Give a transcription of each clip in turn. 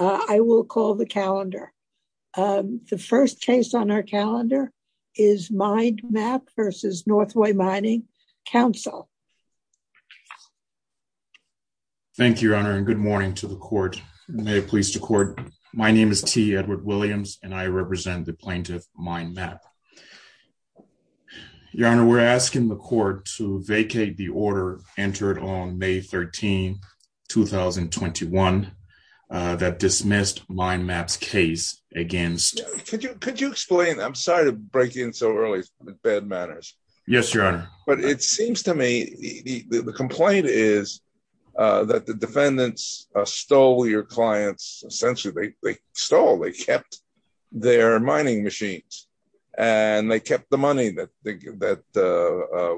I will call the calendar. The first case on our calendar is MinedMap v. Northway Mining Council. Thank you, Your Honor, and good morning to the Court. May it please the Court. My name is T. Edward Williams, and I represent the plaintiff, MinedMap. Your Honor, we're asking the Court to vacate the order entered on May 13, 2021 that dismissed MinedMap's case against… Could you explain? I'm sorry to break in so early with bad manners. Yes, Your Honor. But it seems to me the complaint is that the defendants stole your clients. Essentially, they stole. They kept their mining machines, and they kept the money that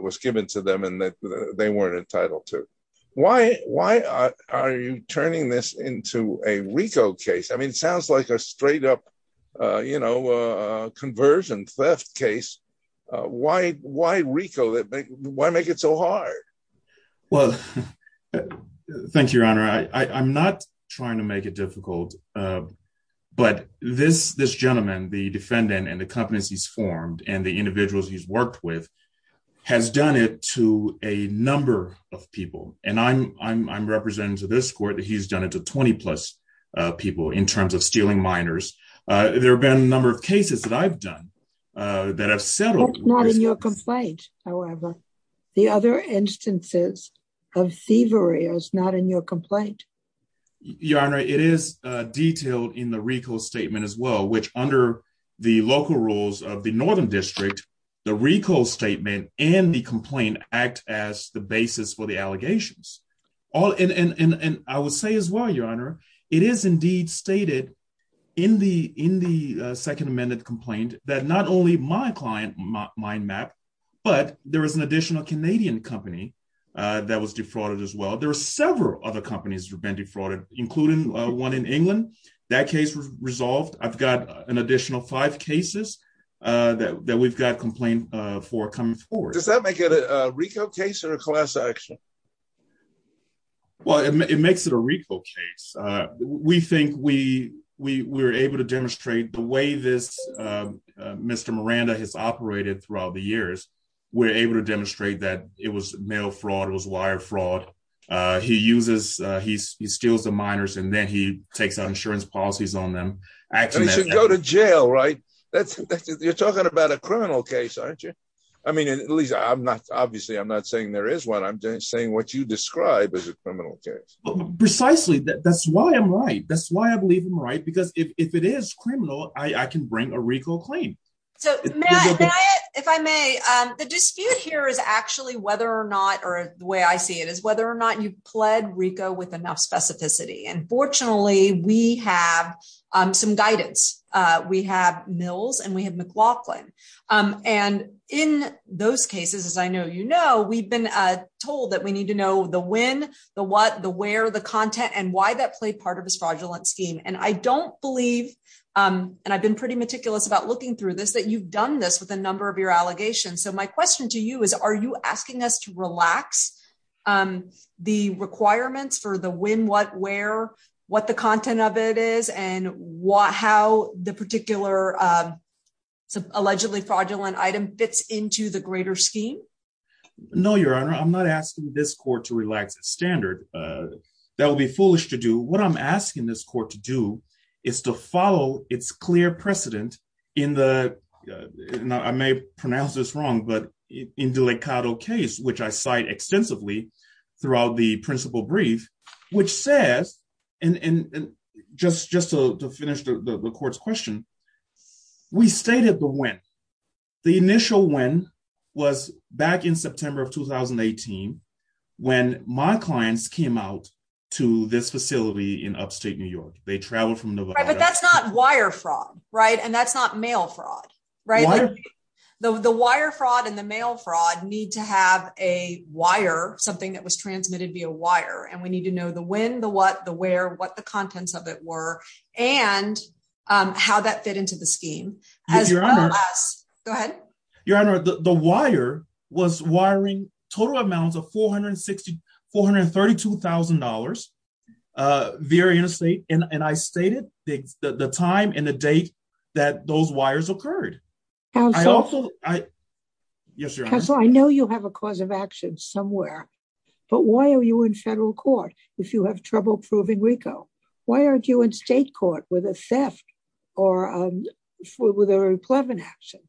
was given to them and that they weren't entitled to. Why are you turning this into a RICO case? I mean, it sounds like a straight up, you know, conversion theft case. Why RICO? Why make it so hard? Well, thank you, Your Honor. I'm not trying to make it difficult. But this gentleman, the defendant and the companies he's formed and the individuals he's worked with, has done it to a number of people. And I'm representing to this Court that he's done it to 20 plus people in terms of stealing miners. There have been a number of cases that I've done that have settled… That's not in your complaint, however. The other instances of thievery is not in your complaint. Your Honor, it is detailed in the RICO statement as well, which under the local rules of the Northern District, the RICO statement and the complaint act as the basis for the allegations. And I would say as well, Your Honor, it is indeed stated in the Second Amendment complaint that not only my client mine map, but there is an additional Canadian company that was defrauded as well. There are several other companies that have been defrauded, including one in England. That case was resolved. I've got an additional five cases that we've got complaint for coming forward. Does that make it a RICO case or a class action? Well, it makes it a RICO case. We think we were able to demonstrate the way this Mr. Miranda has operated throughout the years. We're able to demonstrate that it was mail fraud, it was wire fraud. He uses, he steals the miners and then he takes out insurance policies on them. And he should go to jail, right? You're talking about a criminal case, aren't you? I mean, at least I'm not, obviously, I'm not saying there is one. I'm just saying what you describe as a criminal case. Precisely. That's why I'm right. That's why I believe I'm right. Because if it is criminal, I can bring a RICO claim. So, Matt, if I may, the dispute here is actually whether or not or the way I see it is whether or not you've pled RICO with enough specificity. And fortunately, we have some guidance. We have Mills and we have McLaughlin. And in those cases, as I know you know, we've been told that we need to know the when, the what, the where, the content and why that played part of his fraudulent scheme. And I don't believe, and I've been pretty meticulous about looking through this, that you've done this with a number of your allegations. So my question to you is, are you asking us to relax the requirements for the when, what, where, what the content of it is and what how the particular allegedly fraudulent item fits into the greater scheme? No, Your Honor, I'm not asking this court to relax its standard. That would be foolish to do. What I'm asking this court to do is to follow its clear precedent in the, I may pronounce this wrong, but in the Delicado case, which I cite extensively throughout the principal brief, which says, and just to finish the court's question, we stated the when. The initial when was back in September of 2018 when my clients came out to this facility in upstate New York. They traveled from Nevada. Right, but that's not wire fraud, right? And that's not mail fraud, right? Your Honor, the wire was wiring total amounts of $432,000 via interstate, and I stated the time and the date that those wires occurred. Counsel, I know you have a cause of action somewhere. But why are you in federal court, if you have trouble proving RICO? Why aren't you in state court with a theft or with a replevant action?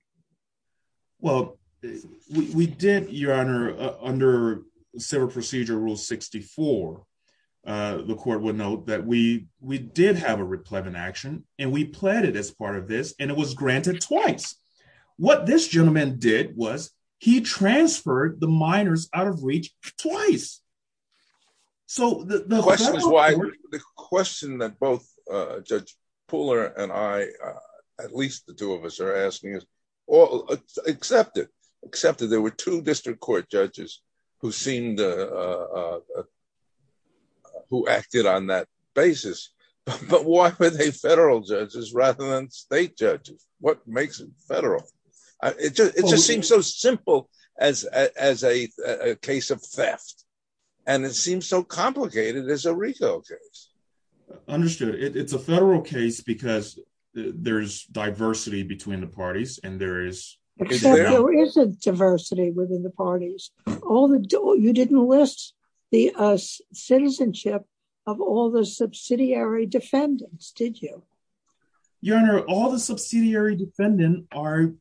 Well, we did, Your Honor, under Civil Procedure Rule 64, the court would note that we did have a replevant action, and we pled it as part of this, and it was granted twice. What this gentleman did was he transferred the miners out of reach twice. The question that both Judge Pooler and I, at least the two of us are asking, is accepted. Accepted. There were two district court judges who acted on that basis, but why were they federal judges rather than state judges? What makes it federal? It just seems so simple as a case of theft, and it seems so complicated as a RICO case. Understood. It's a federal case because there's diversity between the parties, and there is... Except there isn't diversity within the parties. You didn't list the citizenship of all the subsidiary defendants, did you? Your Honor, all the subsidiary defendants are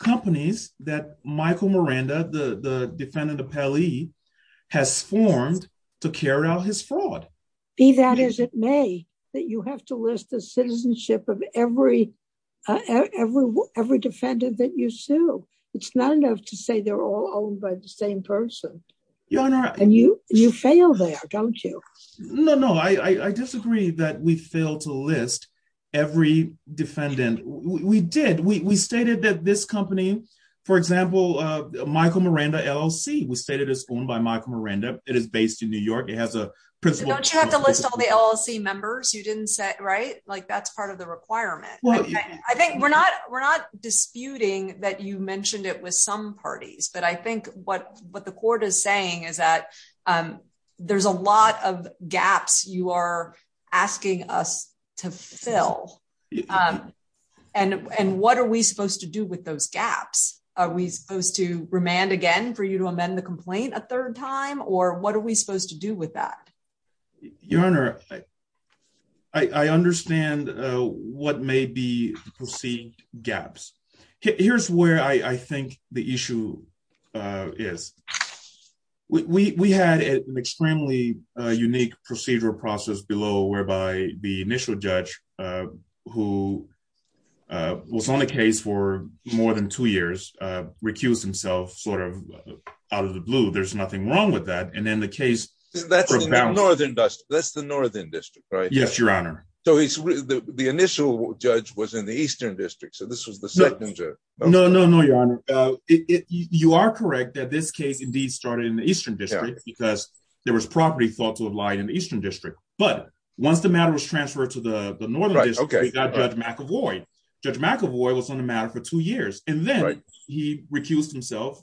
companies that Michael Miranda, the defendant appellee, has formed to carry out his fraud. Be that as it may, you have to list the citizenship of every defendant that you sue. It's not enough to say they're all owned by the same person. Your Honor... And you fail there, don't you? No, no. I disagree that we fail to list every defendant. We did. We stated that this company, for example, Michael Miranda LLC, was stated as owned by Michael Miranda. It is based in New York. It has a principal... Don't you have to list all the LLC members you didn't set, right? That's part of the requirement. I think we're not disputing that you mentioned it with some parties, but I think what the court is saying is that there's a lot of gaps you are asking us to fill. And what are we supposed to do with those gaps? Are we supposed to remand again for you to amend the complaint a third time, or what are we supposed to do with that? Your Honor, I understand what may be perceived gaps. Here's where I think the issue is. We had an extremely unique procedural process below, whereby the initial judge, who was on the case for more than two years, recused himself sort of out of the blue. There's nothing wrong with that. And then the case... That's the Northern District, right? Yes, Your Honor. So the initial judge was in the Eastern District, so this was the second judge. No, no, no, Your Honor. You are correct that this case indeed started in the Eastern District because there was property thought to have lied in the Eastern District. But once the matter was transferred to the Northern District, we got Judge McAvoy. Judge McAvoy was on the matter for two years. And then he recused himself.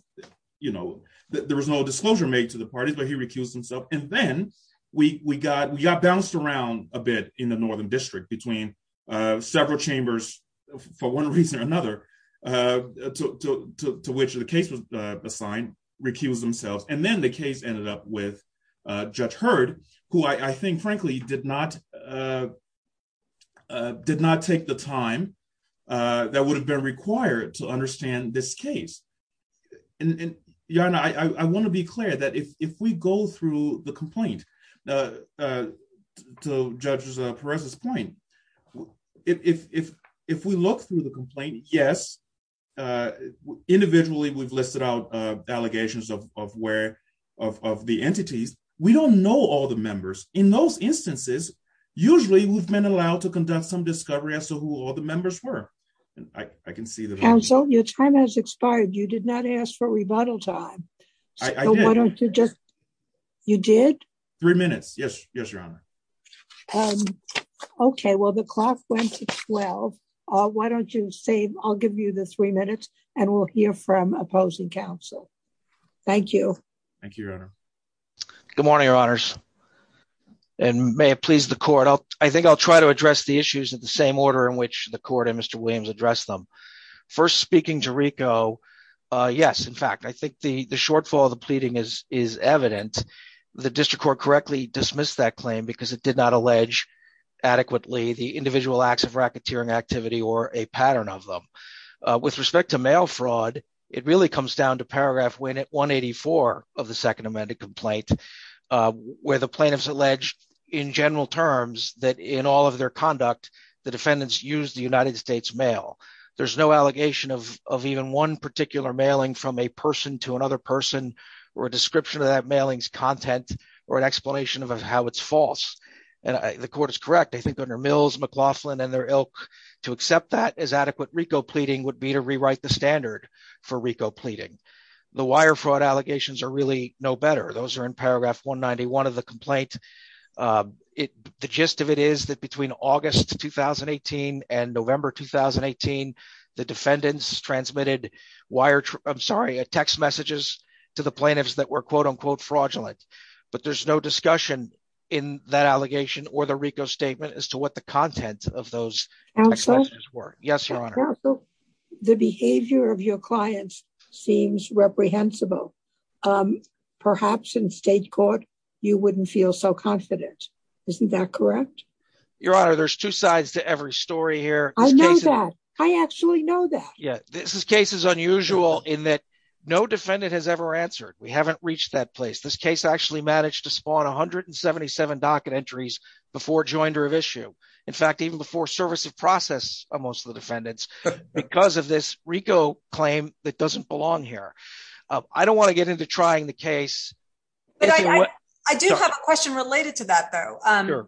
There was no disclosure made to the parties, but he recused himself. And then we got bounced around a bit in the Northern District between several chambers, for one reason or another, to which the case was assigned, recused themselves. And then the case ended up with Judge Hurd, who I think, frankly, did not take the time that would have been required to understand this case. Your Honor, I want to be clear that if we go through the complaint, to Judge Perez's point, if we look through the complaint, yes, individually, we've listed out allegations of the entities. We don't know all the members. In those instances, usually we've been allowed to conduct some discovery as to who all the members were. I can see that. Counsel, your time has expired. You did not ask for rebuttal time. I did. You did? Three minutes. Yes, Your Honor. Okay. Well, the clock went to 12. Why don't you save? I'll give you the three minutes, and we'll hear from opposing counsel. Thank you. Thank you, Your Honor. Good morning, Your Honors. And may it please the Court, I think I'll try to address the issues in the same order in which the Court and Mr. Williams addressed them. First, speaking to Rico, yes, in fact, I think the shortfall of the pleading is evident. The district court correctly dismissed that claim because it did not allege adequately the individual acts of racketeering activity or a pattern of them. With respect to mail fraud, it really comes down to paragraph 184 of the Second Amendment complaint, where the plaintiffs alleged in general terms that in all of their conduct, the defendants use the United States mail. There's no allegation of even one particular mailing from a person to another person or a description of that mailings content or an explanation of how it's false. And the Court is correct, I think, under Mills, McLaughlin, and their ilk to accept that as adequate Rico pleading would be to rewrite the standard for Rico pleading. The wire fraud allegations are really no better. Those are in paragraph 191 of the complaint. The gist of it is that between August 2018 and November 2018, the defendants transmitted wire, I'm sorry, a text messages to the plaintiffs that were quote unquote fraudulent, but there's no discussion in that allegation or the Rico statement as to what the content of those. Yes, Your Honor. The behavior of your clients seems reprehensible. Perhaps in state court, you wouldn't feel so confident. Isn't that correct? Your Honor, there's two sides to every story here. I know that. I actually know that. Yeah, this case is unusual in that no defendant has ever answered. We haven't reached that place. This case actually managed to spawn 177 docket entries before joinder of issue. In fact, even before service of process of most of the defendants because of this Rico claim that doesn't belong here. I don't want to get into trying the case. I do have a question related to that, though.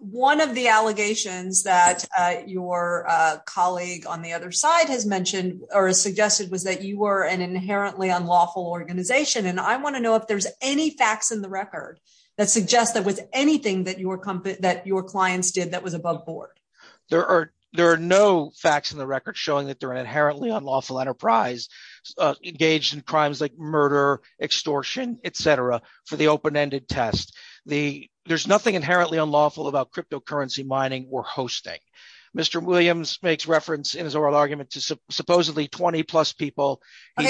One of the allegations that your colleague on the other side has mentioned or suggested was that you were an inherently unlawful organization and I want to know if there's any facts in the record that suggests that with anything that your company that your clients did that was above board. There are no facts in the record showing that they're inherently unlawful enterprise engaged in crimes like murder, extortion, etc. for the open ended test. There's nothing inherently unlawful about cryptocurrency mining or hosting. Mr. Williams makes reference in his oral argument to supposedly 20 plus people. I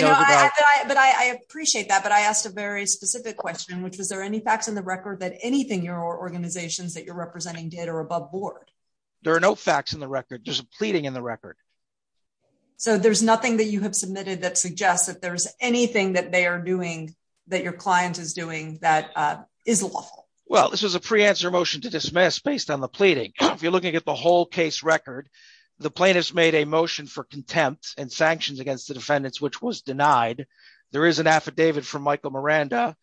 appreciate that. But I asked a very specific question, which was there any facts in the record that anything your organizations that you're representing did or above board? There are no facts in the record. There's a pleading in the record. So there's nothing that you have submitted that suggests that there's anything that they are doing that your client is doing that is lawful. Well, this was a pre answer motion to dismiss based on the pleading. If you're looking at the whole case record. The plaintiffs made a motion for contempt and sanctions against the defendants, which was denied. There is an affidavit from Michael Miranda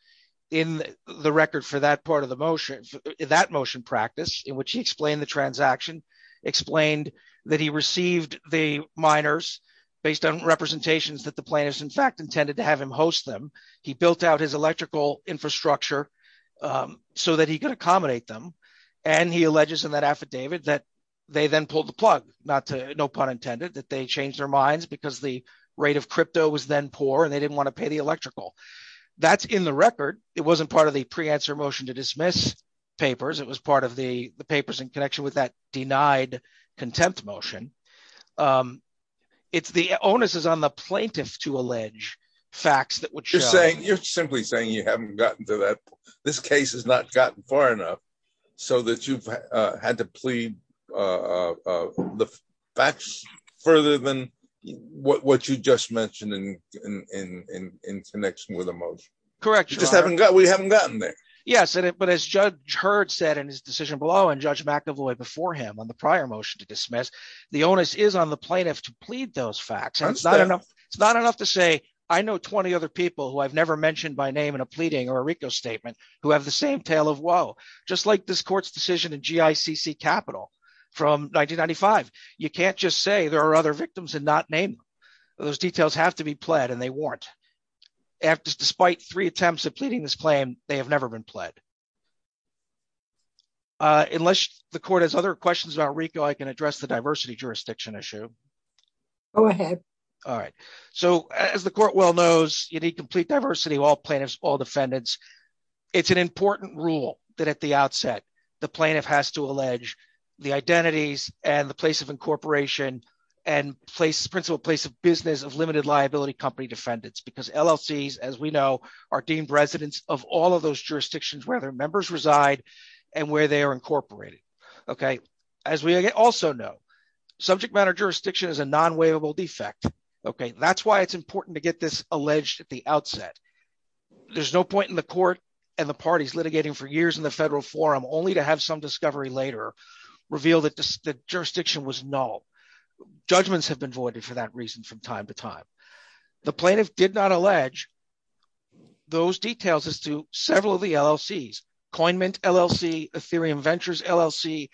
in the record for that part of the motion. That motion practice in which he explained the transaction explained that he received the miners based on representations that the plaintiffs in fact intended to have him host them. He built out his electrical infrastructure so that he could accommodate them. And he alleges in that affidavit that they then pulled the plug, no pun intended, that they changed their minds because the rate of crypto was then poor and they didn't want to pay the electrical. That's in the record. It wasn't part of the pre answer motion to dismiss papers. It was part of the papers in connection with that denied contempt motion. It's the onus is on the plaintiff to allege facts that would show you're simply saying you haven't gotten to that. This case has not gotten far enough so that you've had to plead the facts further than what you just mentioned in connection with emotion. Correct. Just haven't got we haven't gotten there. Yes, but as judge heard said in his decision below and judge McAvoy before him on the prior motion to dismiss the onus is on the plaintiff to plead those facts. It's not enough to say, I know 20 other people who I've never mentioned by name and a pleading or Rico statement, who have the same tale of woe, just like this court's decision and GI CC capital from 1995. You can't just say there are other victims and not name. Those details have to be pled and they weren't after despite three attempts at pleading this claim, they have never been pled. Unless the court has other questions about Rico I can address the diversity jurisdiction issue. Go ahead. All right. So, as the court well knows you need complete diversity all plaintiffs all defendants. It's an important rule that at the outset, the plaintiff has to allege the identities and the place of incorporation and place principle place of business of limited liability company defendants because LLCs, as we know, are deemed residents of all of those jurisdictions where their members reside and where they are incorporated. Okay. As we also know, subject matter jurisdiction is a non waivable defect. Okay, that's why it's important to get this alleged at the outset. There's no point in the court, and the parties litigating for years in the federal forum only to have some discovery later reveal that the jurisdiction was no judgments have been voided for that reason from time to time. The plaintiff did not allege those details as to several of the LLCs coin mint LLC, a theory and ventures LLC.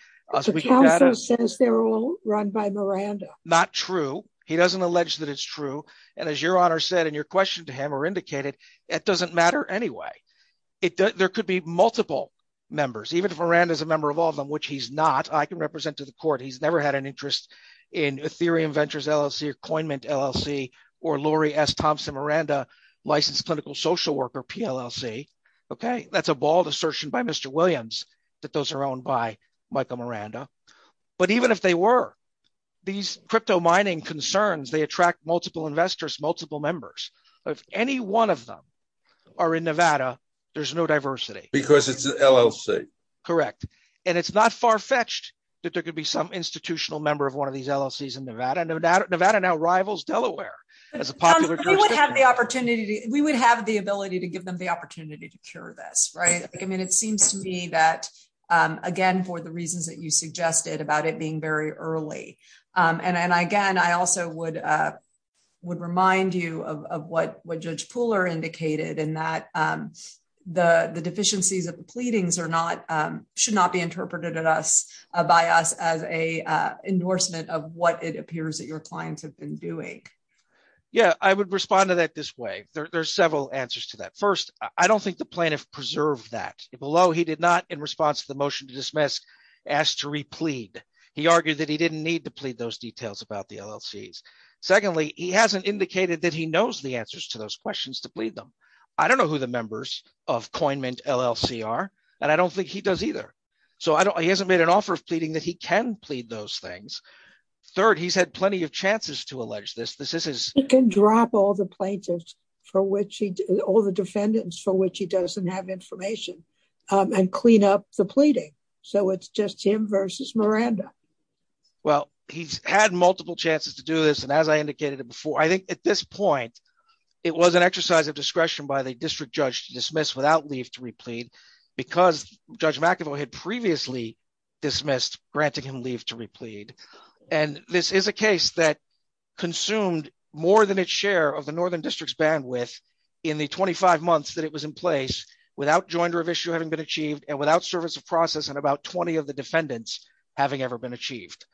run by Miranda, not true. He doesn't allege that it's true. And as your honor said and your question to him or indicated, it doesn't matter anyway. It does, there could be multiple members even if Miranda is a member of all of them which he's not I can represent to the court he's never had an interest in a theory and ventures LLC or coin mint LLC, or Lori s Thompson Miranda licensed clinical social worker PLC. Okay, that's a bald assertion by Mr. Williams, that those are owned by Michael Miranda. But even if they were these crypto mining concerns they attract multiple investors multiple members of any one of them are in Nevada, there's no diversity, because it's LLC. Correct. And it's not far fetched that there could be some institutional member of one of these LLCs in Nevada Nevada Nevada now rivals Delaware, as a popular opportunity, we would have the ability to give them the opportunity to cure this right I mean it seems to me that, again, for the reasons that you suggested about it being very early, and I again I also would would remind you of what what judge Pooler indicated and that the deficiencies of the pleadings are not should not be interpreted at us by us as a endorsement of what it appears that your clients have been doing. Yeah, I would respond to that this way. There's several answers to that first, I don't think the plaintiff preserve that below he did not in response to the motion to dismiss asked to replete. He argued that he didn't need to plead those details about the LLCs. Secondly, he hasn't indicated that he knows the answers to those questions to plead them. I don't know who the members of coin mint LLC are, and I don't think he does either. So I don't he hasn't made an offer of pleading that he can plead those things. Third, he's had plenty of chances to allege this this is can drop all the plaintiffs for which he did all the defendants for which he doesn't have information and clean up the pleading. So it's just him versus Miranda. Well, he's had multiple chances to do this and as I indicated before I think at this point. It was an exercise of discretion by the district judge dismiss without leave to replete, because Judge McEvoy had previously dismissed granting him leave to replete. And this is a case that consumed more than its share of the northern district's bandwidth in the 25 months that it was in place without joinder of issue having been achieved and without service of process and about 20 of the defendants, having ever been achieved.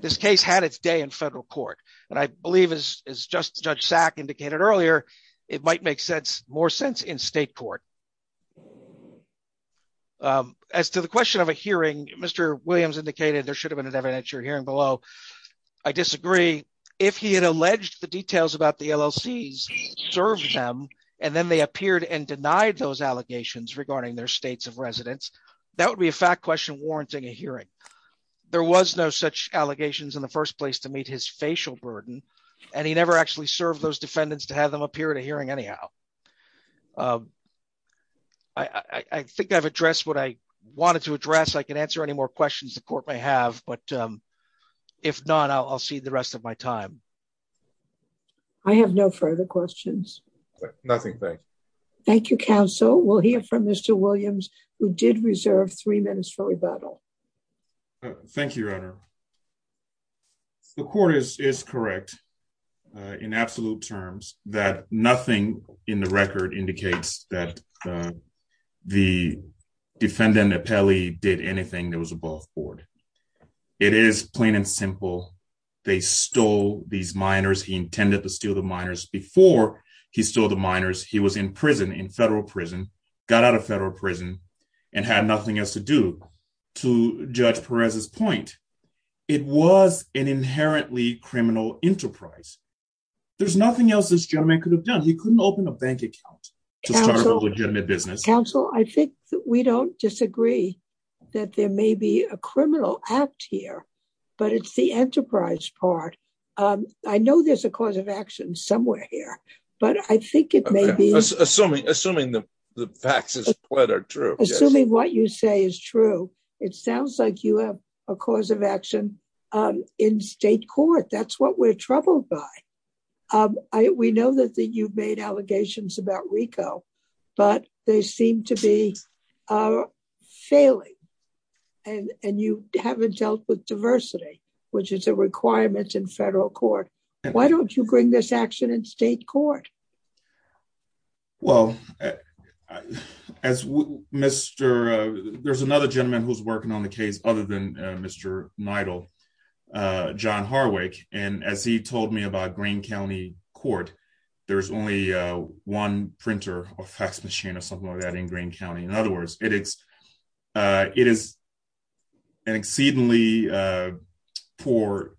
This case had its day in federal court, and I believe is just Judge sack indicated earlier, it might make sense, more sense in state court. As to the question of a hearing, Mr. Williams indicated there should have been an evidentiary hearing below. I disagree. If he had alleged the details about the LLC's serves them, and then they appeared and denied those allegations regarding their states of residence, that would be a fact question warranting a hearing. There was no such allegations in the first place to meet his facial burden, and he never actually serve those defendants to have them appear to hearing anyhow. I think I've addressed what I wanted to address I can answer any more questions the court may have, but if not I'll see the rest of my time. I have no further questions. Nothing. Thank you counsel will hear from Mr. Williams, who did reserve three minutes for rebuttal. Thank you. The court is is correct. In absolute terms, that nothing in the record indicates that the defendant appellee did anything that was above board. It is plain and simple. They stole these minors he intended to steal the minors before he stole the minors he was in prison in federal prison, got out of federal prison and had nothing else to do to judge Perez's point. It was an inherently criminal enterprise. There's nothing else this gentleman could have done he couldn't open a bank account legitimate business council I think we don't disagree that there may be a criminal act here, but it's the enterprise part. I know there's a cause of action somewhere here, but I think it may be assuming assuming the facts are true assuming what you say is true. It sounds like you have a cause of action in state court that's what we're troubled by. We know that that you've made allegations about Rico, but they seem to be failing, and you haven't dealt with diversity, which is a requirement in federal court. Why don't you bring this action in state court. Well, as Mr. There's another gentleman who's working on the case, other than Mr. Nidal john Harwick, and as he told me about green county court. There's only one printer or fax machine or something like that in green county in other words, it is. It is an exceedingly poor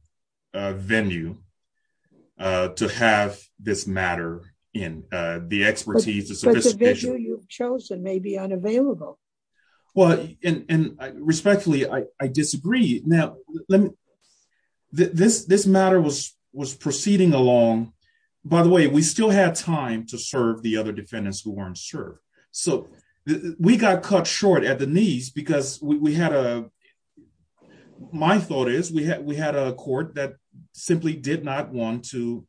venue to have this matter in the expertise is chosen maybe unavailable. Well, and respectfully I disagree. Now, let me this this matter was was proceeding along. By the way, we still had time to serve the other defendants who weren't served. So, we got cut short at the knees because we had a. My thought is we had we had a court that simply did not want to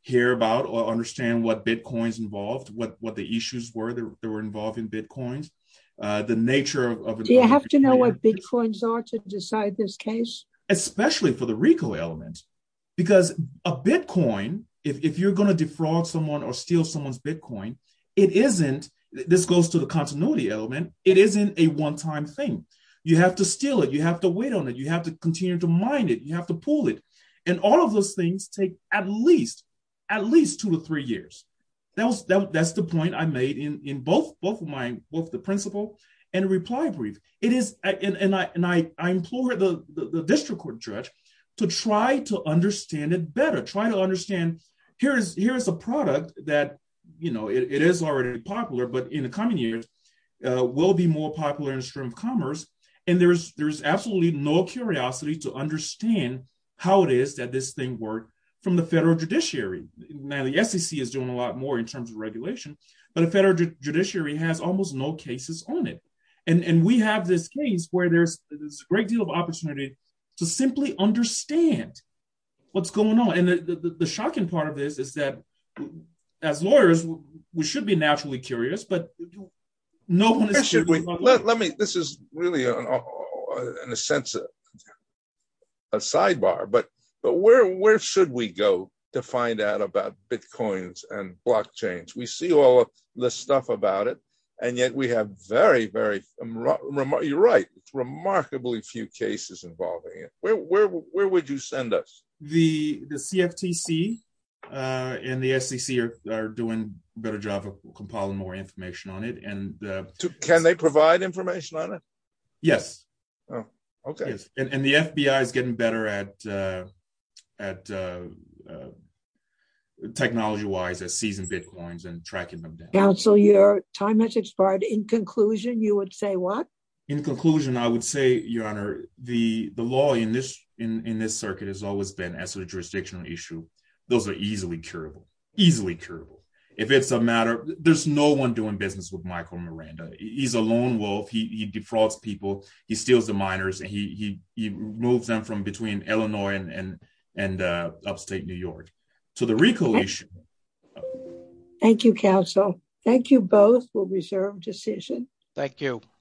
hear about or understand what bitcoins involved what what the issues were there were involved in bitcoins. Do you have to know what bitcoins are to decide this case, especially for the Rico element, because a Bitcoin, if you're going to defraud someone or steal someone's Bitcoin. It isn't. This goes to the continuity element, it isn't a one time thing. You have to steal it you have to wait on it you have to continue to mind it you have to pull it, and all of those things take at least at least two to three years. That's the point I made in both both of mine, both the principle and reply brief, it is, and I implore the district court judge to try to understand it better try to understand. Here's, here's a product that you know it is already popular but in the coming years will be more popular in the stream of commerce, and there's there's absolutely no curiosity to understand how it is that this thing work from the federal judiciary. Now the SEC is doing a lot more in terms of regulation, but a federal judiciary has almost no cases on it. And we have this case where there's this great deal of opportunity to simply understand what's going on and the shocking part of this is that as lawyers, we should be naturally curious but no one is. Let me, this is really a sense of a sidebar but but where where should we go to find out about bitcoins and blockchains we see all the stuff about it. And yet we have very very remote you're right, remarkably few cases involving it, where would you send us the CFTC in the SEC are doing better job of compiling more information on it and can they provide information on it. Yes. Oh, okay. And the FBI is getting better at, at technology wise that season bitcoins and tracking them down so your time has expired in conclusion, you would say what, in conclusion, I would say, Your Honor, the, the law in this in this circuit has always been as a jurisdictional issue. Those are easily curable easily curable. If it's a matter, there's no one doing business with Michael Miranda, he's a lone wolf he defrauds people, he steals the minors and he moves them from between Illinois and and upstate New York to the recollection. Thank you counsel. Thank you both will reserve decision. Thank you.